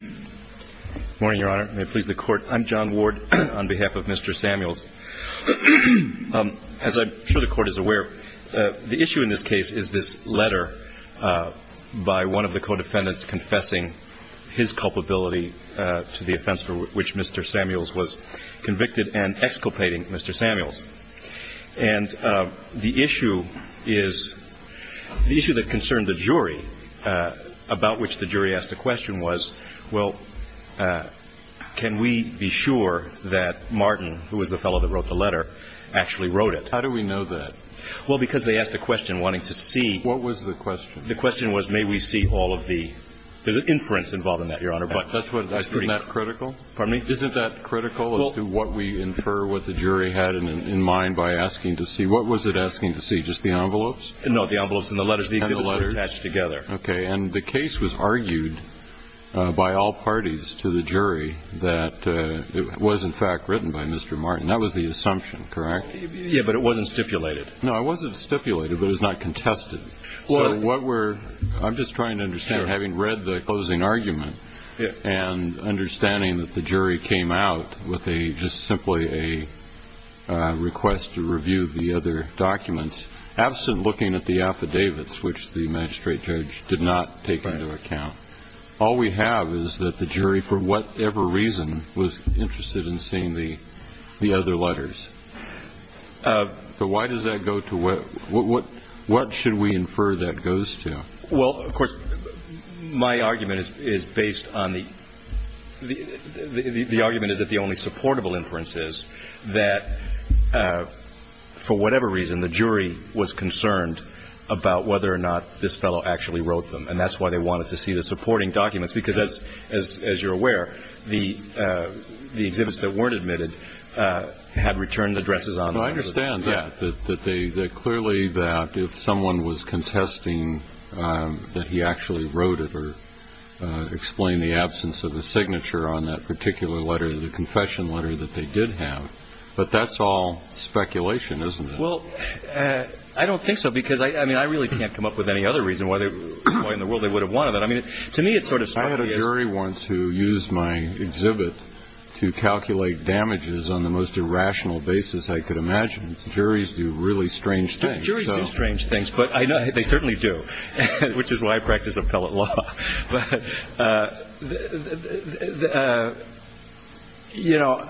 Good morning, Your Honor. May it please the Court. I'm John Ward on behalf of Mr. Samuels. As I'm sure the Court is aware, the issue in this case is this letter by one of the co-defendants confessing his culpability to the offense for which Mr. Samuels was convicted and exculpating Mr. Samuels. And the issue is, the issue that concerned the jury about which the jury asked the question was, well, can we be sure that Martin, who was the fellow that wrote the letter, actually wrote it? How do we know that? Well, because they asked a question wanting to see... What was the question? The question was may we see all of the, there's an inference involved in that, Your Honor, but... Isn't that critical? Pardon me? What was it asking to see, just the envelopes? No, the envelopes and the letters, the exhibits were attached together. Okay, and the case was argued by all parties to the jury that it was, in fact, written by Mr. Martin. That was the assumption, correct? Yeah, but it wasn't stipulated. No, it wasn't stipulated, but it was not contested. So what we're, I'm just trying to understand, having read the closing argument and understanding that the jury came out with just simply a request to review the other documents, absent looking at the affidavits, which the magistrate judge did not take into account. All we have is that the jury, for whatever reason, was interested in seeing the other letters. So why does that go to, what should we infer that goes to? Well, of course, my argument is based on the, the argument is that the only supportable inference is that, for whatever reason, the jury was concerned about whether or not this fellow actually wrote them, and that's why they wanted to see the supporting documents, because as you're aware, the exhibits that weren't admitted had returned addresses on them. No, I understand that, that they, that clearly that if someone was contesting that he actually wrote it or explained the absence of a signature on that particular letter, the confession letter that they did have, but that's all speculation, isn't it? Well, I don't think so, because I, I mean, I really can't come up with any other reason why they, why in the world they would have wanted that. I had a jury once who used my exhibit to calculate damages on the most irrational basis I could imagine. Juries do really strange things. Juries do strange things, but I know they certainly do, which is why I practice appellate law. But, you know,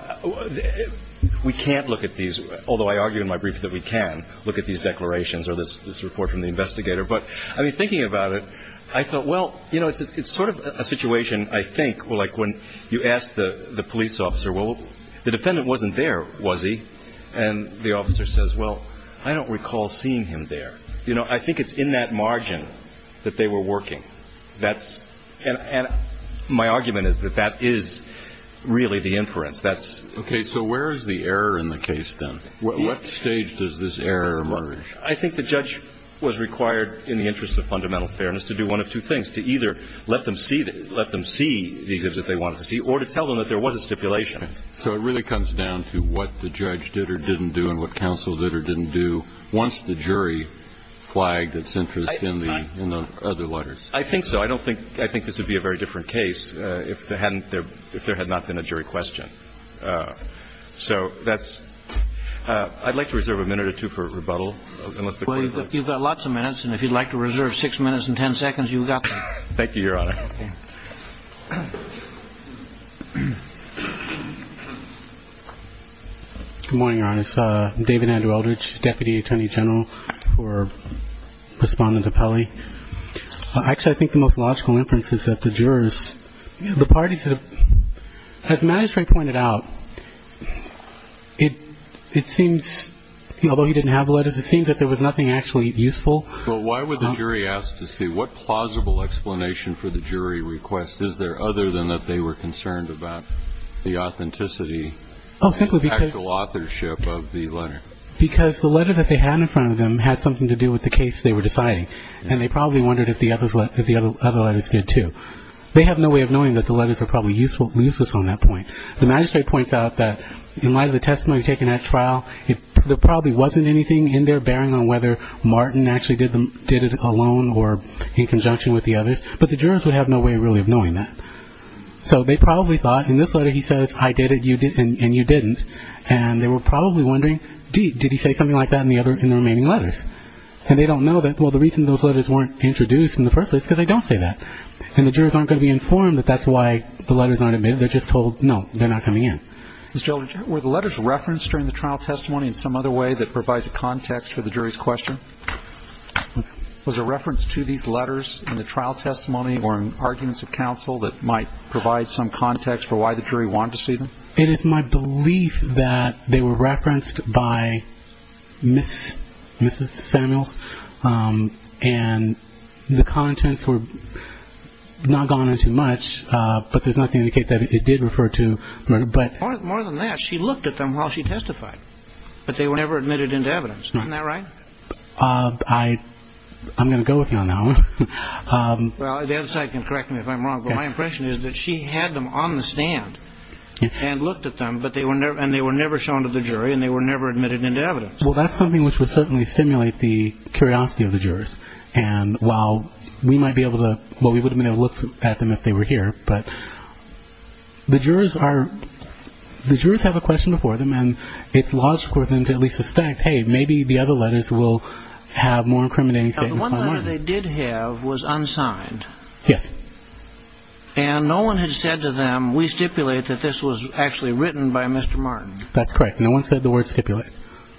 we can't look at these, although I argue in my brief that we can look at these declarations or this report from the investigator, but, I mean, thinking about it, I thought, well, you know, it's sort of a situation, I think, like when you ask the police officer, well, the defendant wasn't there, was he? And the officer says, well, I don't recall seeing him there. You know, I think it's in that margin that they were working. That's, and my argument is that that is really the inference. That's. Okay, so where is the error in the case, then? What stage does this error emerge? I think the judge was required in the interest of fundamental fairness to do one of two things, to either let them see the exhibit they wanted to see or to tell them that there was a stipulation. So it really comes down to what the judge did or didn't do and what counsel did or didn't do once the jury flagged its interest in the other letters. I think so. I don't think, I think this would be a very different case if there hadn't, if there had not been a jury question. So that's, I'd like to reserve a minute or two for rebuttal. Well, you've got lots of minutes. And if you'd like to reserve six minutes and ten seconds, you've got them. Thank you, Your Honor. Good morning, Your Honor. It's David Andrew Eldridge, Deputy Attorney General for Respondent of Pelley. Actually, I think the most logical inference is that the jurors, the parties that have, as Magistrate pointed out, it seems, although he didn't have the letters, it seems that there was nothing actually useful. Well, why would the jury ask to see what plausible explanation for the jury request is there other than that they were concerned about the authenticity of the actual authorship of the letter? Because the letter that they had in front of them had something to do with the case they were deciding. And they probably wondered if the other letters did, too. They have no way of knowing that the letters are probably useful or useless on that point. The magistrate points out that in light of the testimony taken at trial, there probably wasn't anything in there bearing on whether Martin actually did it alone or in conjunction with the others. But the jurors would have no way really of knowing that. So they probably thought, in this letter he says, I did it and you didn't. And they were probably wondering, did he say something like that in the remaining letters? And they don't know that. Well, the reason those letters weren't introduced in the first place is because they don't say that. And the jurors aren't going to be informed that that's why the letters aren't in there. They're just told, no, they're not coming in. Mr. Eldridge, were the letters referenced during the trial testimony in some other way that provides a context for the jury's question? Was a reference to these letters in the trial testimony or in arguments of counsel that might provide some context for why the jury wanted to see them? It is my belief that they were referenced by Mrs. Samuels. And the contents were not gone into much, but there's nothing to indicate that it did refer to. More than that, she looked at them while she testified, but they were never admitted into evidence. Isn't that right? I'm going to go with you on that one. Well, the other side can correct me if I'm wrong, but my impression is that she had them on the stand and looked at them, and they were never shown to the jury and they were never admitted into evidence. Well, that's something which would certainly stimulate the curiosity of the jurors. And while we might be able to look at them if they were here, but the jurors have a question before them and it's logical for them to at least suspect, hey, maybe the other letters will have more incriminating statements. Now, the one letter they did have was unsigned. Yes. And no one had said to them, we stipulate that this was actually written by Mr. Martin. That's correct. No one said the word stipulate.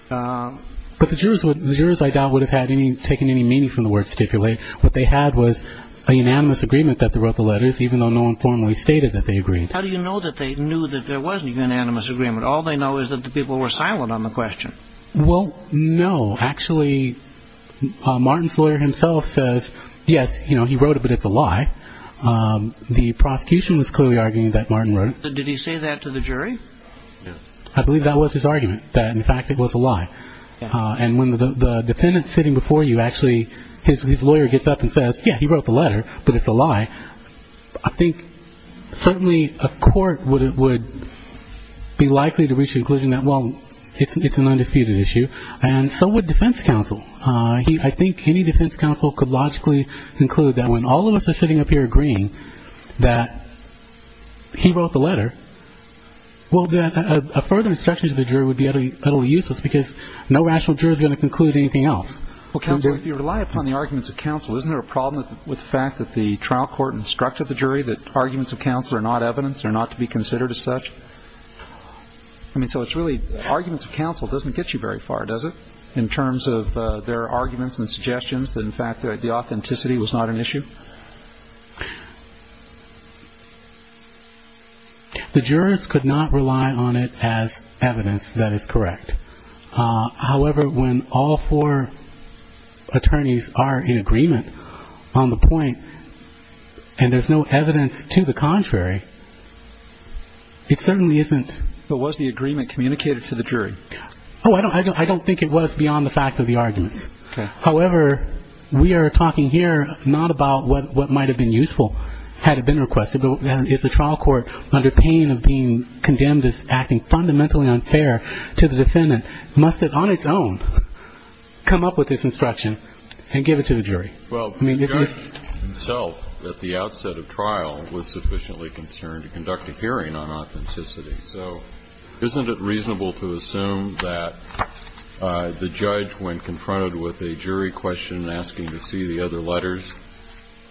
But the jurors, I doubt, would have taken any meaning from the word stipulate. What they had was an unanimous agreement that they wrote the letters, even though no one formally stated that they agreed. How do you know that they knew that there was an unanimous agreement? All they know is that the people were silent on the question. Well, no. Actually, Martin's lawyer himself says, yes, he wrote it, but it's a lie. Did he say that to the jury? I believe that was his argument, that, in fact, it was a lie. And when the defendant's sitting before you, actually, his lawyer gets up and says, yes, he wrote the letter, but it's a lie. I think certainly a court would be likely to reach the conclusion that, well, it's an undisputed issue, and so would defense counsel. I think any defense counsel could logically conclude that when all of us are sitting up here agreeing that he wrote the letter, well, then a further instruction to the jury would be utterly useless because no rational jury is going to conclude anything else. Well, counsel, if you rely upon the arguments of counsel, isn't there a problem with the fact that the trial court instructed the jury that arguments of counsel are not evidence, they're not to be considered as such? I mean, so it's really arguments of counsel doesn't get you very far, does it, in terms of their arguments and suggestions that, in fact, the authenticity was not an issue? The jurors could not rely on it as evidence that is correct. However, when all four attorneys are in agreement on the point and there's no evidence to the contrary, it certainly isn't. But was the agreement communicated to the jury? Oh, I don't think it was beyond the fact of the arguments. However, we are talking here not about what might have been useful had it been requested, and if the trial court, under pain of being condemned as acting fundamentally unfair to the defendant, must have on its own come up with this instruction and give it to the jury. Well, the judge himself at the outset of trial was sufficiently concerned to conduct a hearing on authenticity, so isn't it reasonable to assume that the judge, when confronted with a jury question and asking to see the other letters,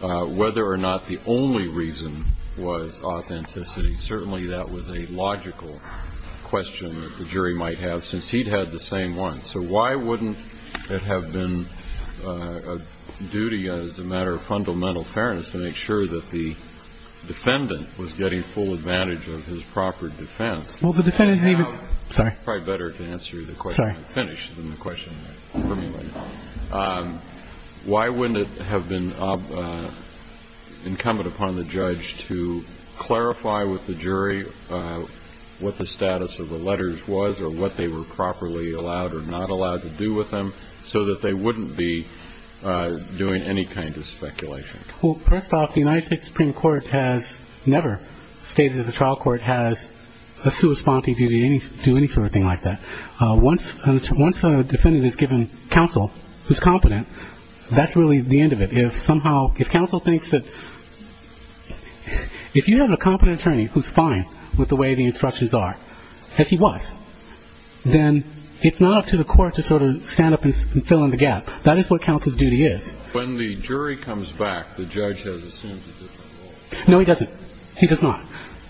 whether or not the only reason was authenticity, certainly that was a logical question that the jury might have, since he'd had the same one. So why wouldn't it have been a duty, as a matter of fundamental fairness, to make sure that the defendant was getting full advantage of his proper defense? It's probably better to answer the question when I'm finished than the question for me right now. Why wouldn't it have been incumbent upon the judge to clarify with the jury what the status of the letters was or what they were properly allowed or not allowed to do with them, so that they wouldn't be doing any kind of speculation? Well, first off, the United States Supreme Court has never stated that the trial court has a sui sponte duty to do any sort of thing like that. Once a defendant is given counsel who's competent, that's really the end of it. If somehow counsel thinks that if you have a competent attorney who's fine with the way the instructions are, as he was, then it's not up to the court to sort of stand up and fill in the gap. That is what counsel's duty is. When the jury comes back, the judge has assumed he doesn't know. No, he doesn't. He does not.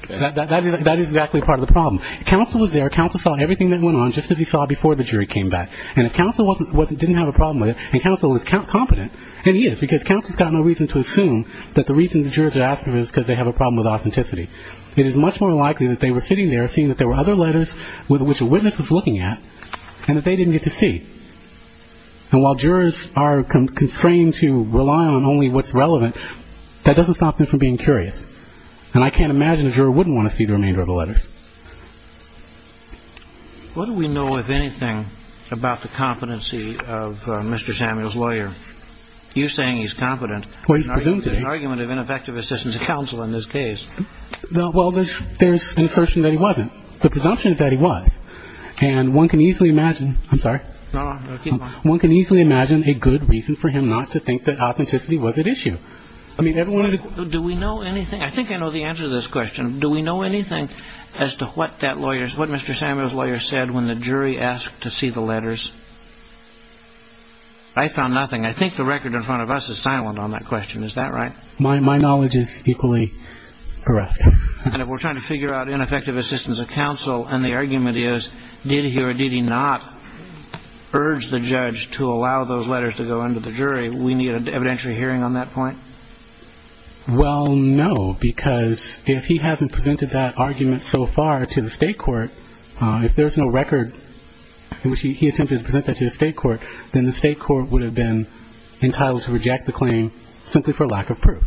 That is exactly part of the problem. Counsel was there. Counsel saw everything that went on just as he saw before the jury came back. And if counsel didn't have a problem with it and counsel is competent, and he is because counsel's got no reason to assume that the reason the jurors are asking him is because they have a problem with authenticity, it is much more likely that they were sitting there seeing that there were other letters which a witness was looking at and that they didn't get to see. And while jurors are constrained to rely on only what's relevant, that doesn't stop them from being curious. And I can't imagine a juror wouldn't want to see the remainder of the letters. What do we know, if anything, about the competency of Mr. Samuel's lawyer? You're saying he's competent. Well, he's presumed to be. There's an argument of ineffective assistance of counsel in this case. Well, there's an assertion that he wasn't. The presumption is that he was. And one can easily imagine – I'm sorry. No, keep going. One can easily imagine a good reason for him not to think that authenticity was at issue. I mean, everyone – Do we know anything – I think I know the answer to this question. Do we know anything as to what that lawyer's – what Mr. Samuel's lawyer said when the jury asked to see the letters? I found nothing. I think the record in front of us is silent on that question. Is that right? My knowledge is equally correct. And if we're trying to figure out ineffective assistance of counsel and the argument is, did he or did he not urge the judge to allow those letters to go into the jury, we need an evidentiary hearing on that point? Well, no, because if he hasn't presented that argument so far to the state court, if there's no record in which he attempted to present that to the state court, then the state court would have been entitled to reject the claim simply for lack of proof.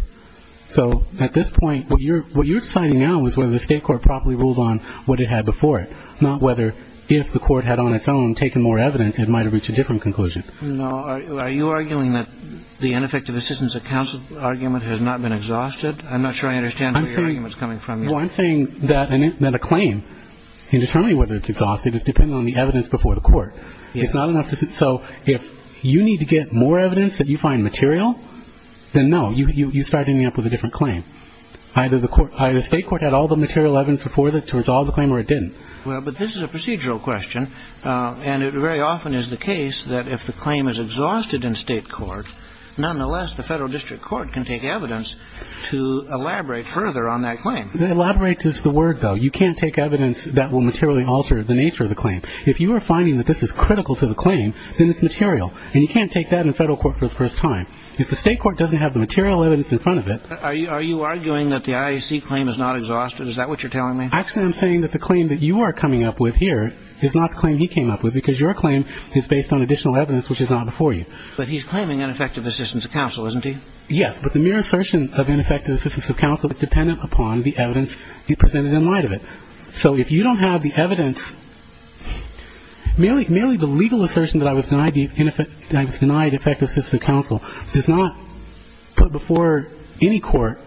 So at this point, what you're deciding now is whether the state court properly ruled on what it had before it, not whether if the court had on its own taken more evidence, it might have reached a different conclusion. No. Are you arguing that the ineffective assistance of counsel argument has not been exhausted? I'm not sure I understand where your argument is coming from. Well, I'm saying that a claim in determining whether it's exhausted is dependent on the evidence before the court. It's not enough to – so if you need to get more evidence that you find material, then no. You start ending up with a different claim. Either the state court had all the material evidence before that to resolve the claim or it didn't. Well, but this is a procedural question, and it very often is the case that if the claim is exhausted in state court, nonetheless the federal district court can take evidence to elaborate further on that claim. Elaborate is the word, though. You can't take evidence that will materially alter the nature of the claim. If you are finding that this is critical to the claim, then it's material, and you can't take that in federal court for the first time. If the state court doesn't have the material evidence in front of it – Are you arguing that the IAC claim is not exhausted? Is that what you're telling me? Actually, I'm saying that the claim that you are coming up with here is not the claim he came up with because your claim is based on additional evidence which is not before you. But he's claiming ineffective assistance of counsel, isn't he? Yes, but the mere assertion of ineffective assistance of counsel is dependent upon the evidence presented in light of it. So if you don't have the evidence – merely the legal assertion that I was denied effective assistance of counsel does not put before any court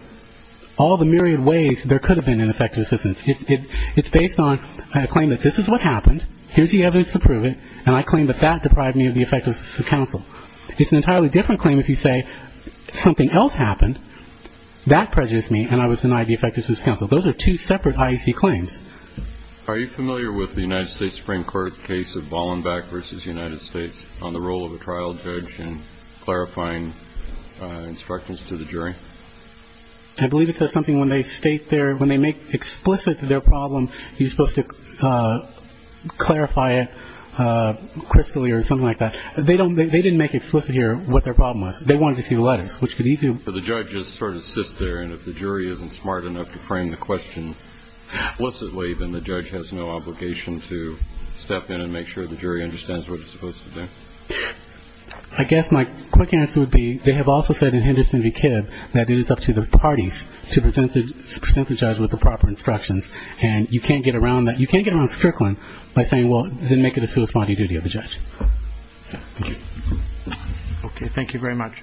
all the myriad ways there could have been ineffective assistance. It's based on a claim that this is what happened, here's the evidence to prove it, and I claim that that deprived me of the effective assistance of counsel. It's an entirely different claim if you say something else happened, that prejudiced me, and I was denied the effective assistance of counsel. Those are two separate IAC claims. Are you familiar with the United States Supreme Court case of Bollenbeck v. United States on the role of a trial judge in clarifying instructions to the jury? I believe it says something when they state their – when they make explicit their problem, you're supposed to clarify it crystally or something like that. They don't – they didn't make explicit here what their problem was. They wanted to see the letters, which could easily – The judge sort of sits there, and if the jury isn't smart enough to frame the question explicitly, then the judge has no obligation to step in and make sure the jury understands what it's supposed to do. I guess my quick answer would be they have also said in Henderson v. Kibb that it is up to the parties to present the judge with the proper instructions, and you can't get around that. You can't get around Strickland by saying, well, then make it a suicide duty of the judge. Thank you. Okay. Thank you very much.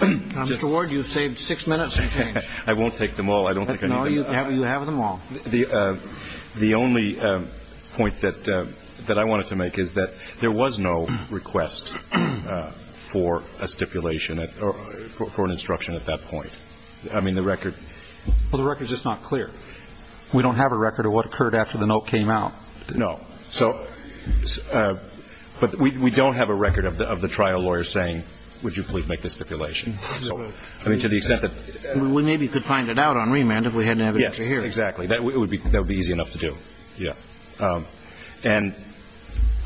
Mr. Ward, you've saved six minutes. I won't take them all. I don't think I need them. No, you have them all. The only point that I wanted to make is that there was no request for a stipulation or for an instruction at that point. I mean, the record – Well, the record's just not clear. We don't have a record of what occurred after the note came out. No. So – but we don't have a record of the trial lawyer saying, would you please make the stipulation. I mean, to the extent that – We maybe could find it out on remand if we had an evidence to hear. Yes, exactly. That would be easy enough to do. Yeah. And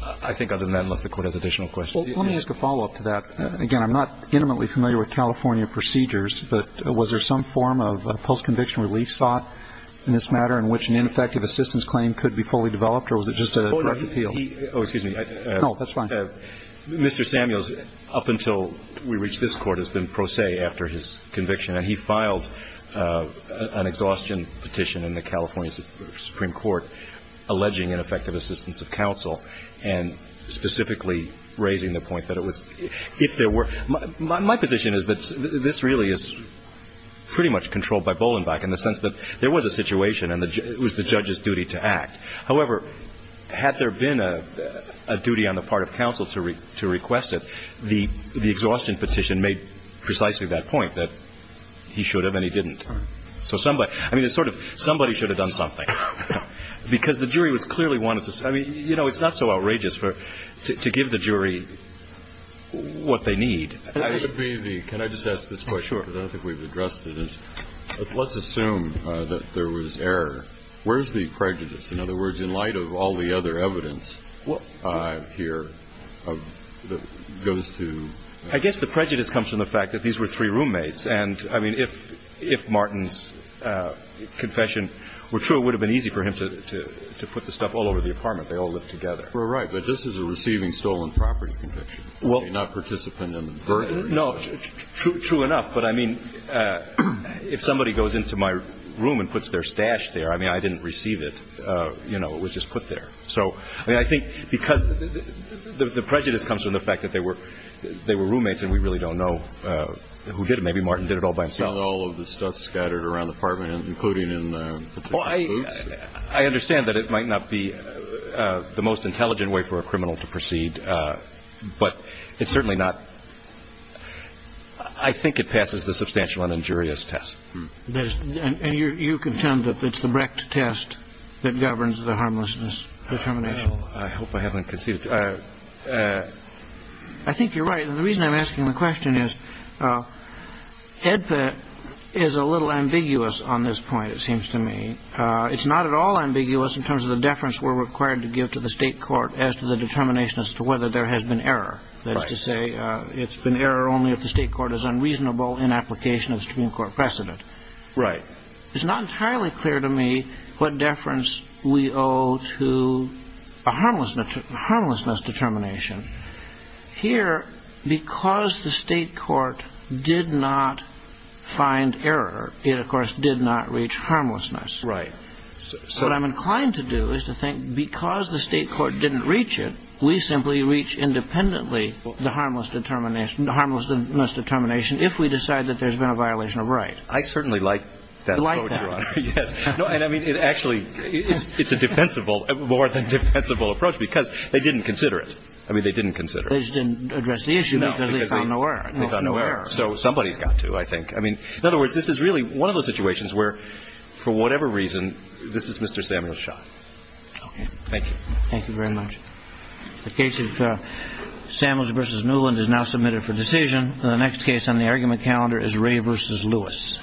I think other than that, unless the Court has additional questions. Well, let me ask a follow-up to that. Again, I'm not intimately familiar with California procedures, but was there some form of post-conviction relief sought in this matter in which an ineffective assistance claim could be fully developed, or was it just a direct appeal? Oh, excuse me. No, that's fine. Mr. Samuels, up until we reached this Court, has been pro se after his conviction, and he filed an exhaustion petition in the California Supreme Court alleging ineffective assistance of counsel and specifically raising the point that it was – if there were – my position is that this really is pretty much controlled by Bolenbach in the sense that there was a situation and it was the judge's duty to act. However, had there been a duty on the part of counsel to request it, the exhaustion petition made precisely that point, that he should have and he didn't. So somebody – I mean, it's sort of somebody should have done something. Because the jury was clearly wanting to – I mean, you know, it's not so outrageous to give the jury what they need. That would be the – can I just ask this question? Sure. Because I don't think we've addressed it. Let's assume that there was error. Where's the prejudice? In other words, in light of all the other evidence here that goes to – I guess the prejudice comes from the fact that these were three roommates. And, I mean, if Martin's confession were true, it would have been easy for him to put the stuff all over the apartment. They all live together. Well, right. But this is a receiving stolen property conviction. Not participant in the burden. No. True enough. But, I mean, if somebody goes into my room and puts their stash there, I mean, they don't receive it. You know, it was just put there. So, I mean, I think because the prejudice comes from the fact that they were roommates and we really don't know who did it. Maybe Martin did it all by himself. All of the stuff scattered around the apartment, including in particular boots. I understand that it might not be the most intelligent way for a criminal to proceed. But it's certainly not – I think it passes the substantial and injurious test. And you contend that it's the Brecht test that governs the harmlessness determination. Well, I hope I haven't conceded. I think you're right. The reason I'm asking the question is, HEDPT is a little ambiguous on this point, it seems to me. It's not at all ambiguous in terms of the deference we're required to give to the state court as to the determination as to whether there has been error. That is to say, it's been error only if the state court is unreasonable in application of its Supreme Court precedent. Right. It's not entirely clear to me what deference we owe to a harmlessness determination. Here, because the state court did not find error, it, of course, did not reach harmlessness. Right. So what I'm inclined to do is to think because the state court didn't reach it, we simply reach independently the harmlessness determination if we decide that there's been a violation of right. I certainly like that approach, Your Honor. You like that? Yes. No, I mean, it actually – it's a defensible – more than defensible approach because they didn't consider it. I mean, they didn't consider it. They just didn't address the issue because they found no error. No, because they found no error. So somebody's got to, I think. I mean, in other words, this is really one of those situations where, for whatever reason, this is Mr. Samuel's shot. Okay. Thank you. Thank you very much. The case of Samuels v. Newland is now submitted for decision. The next case on the argument calendar is Ray v. Lewis.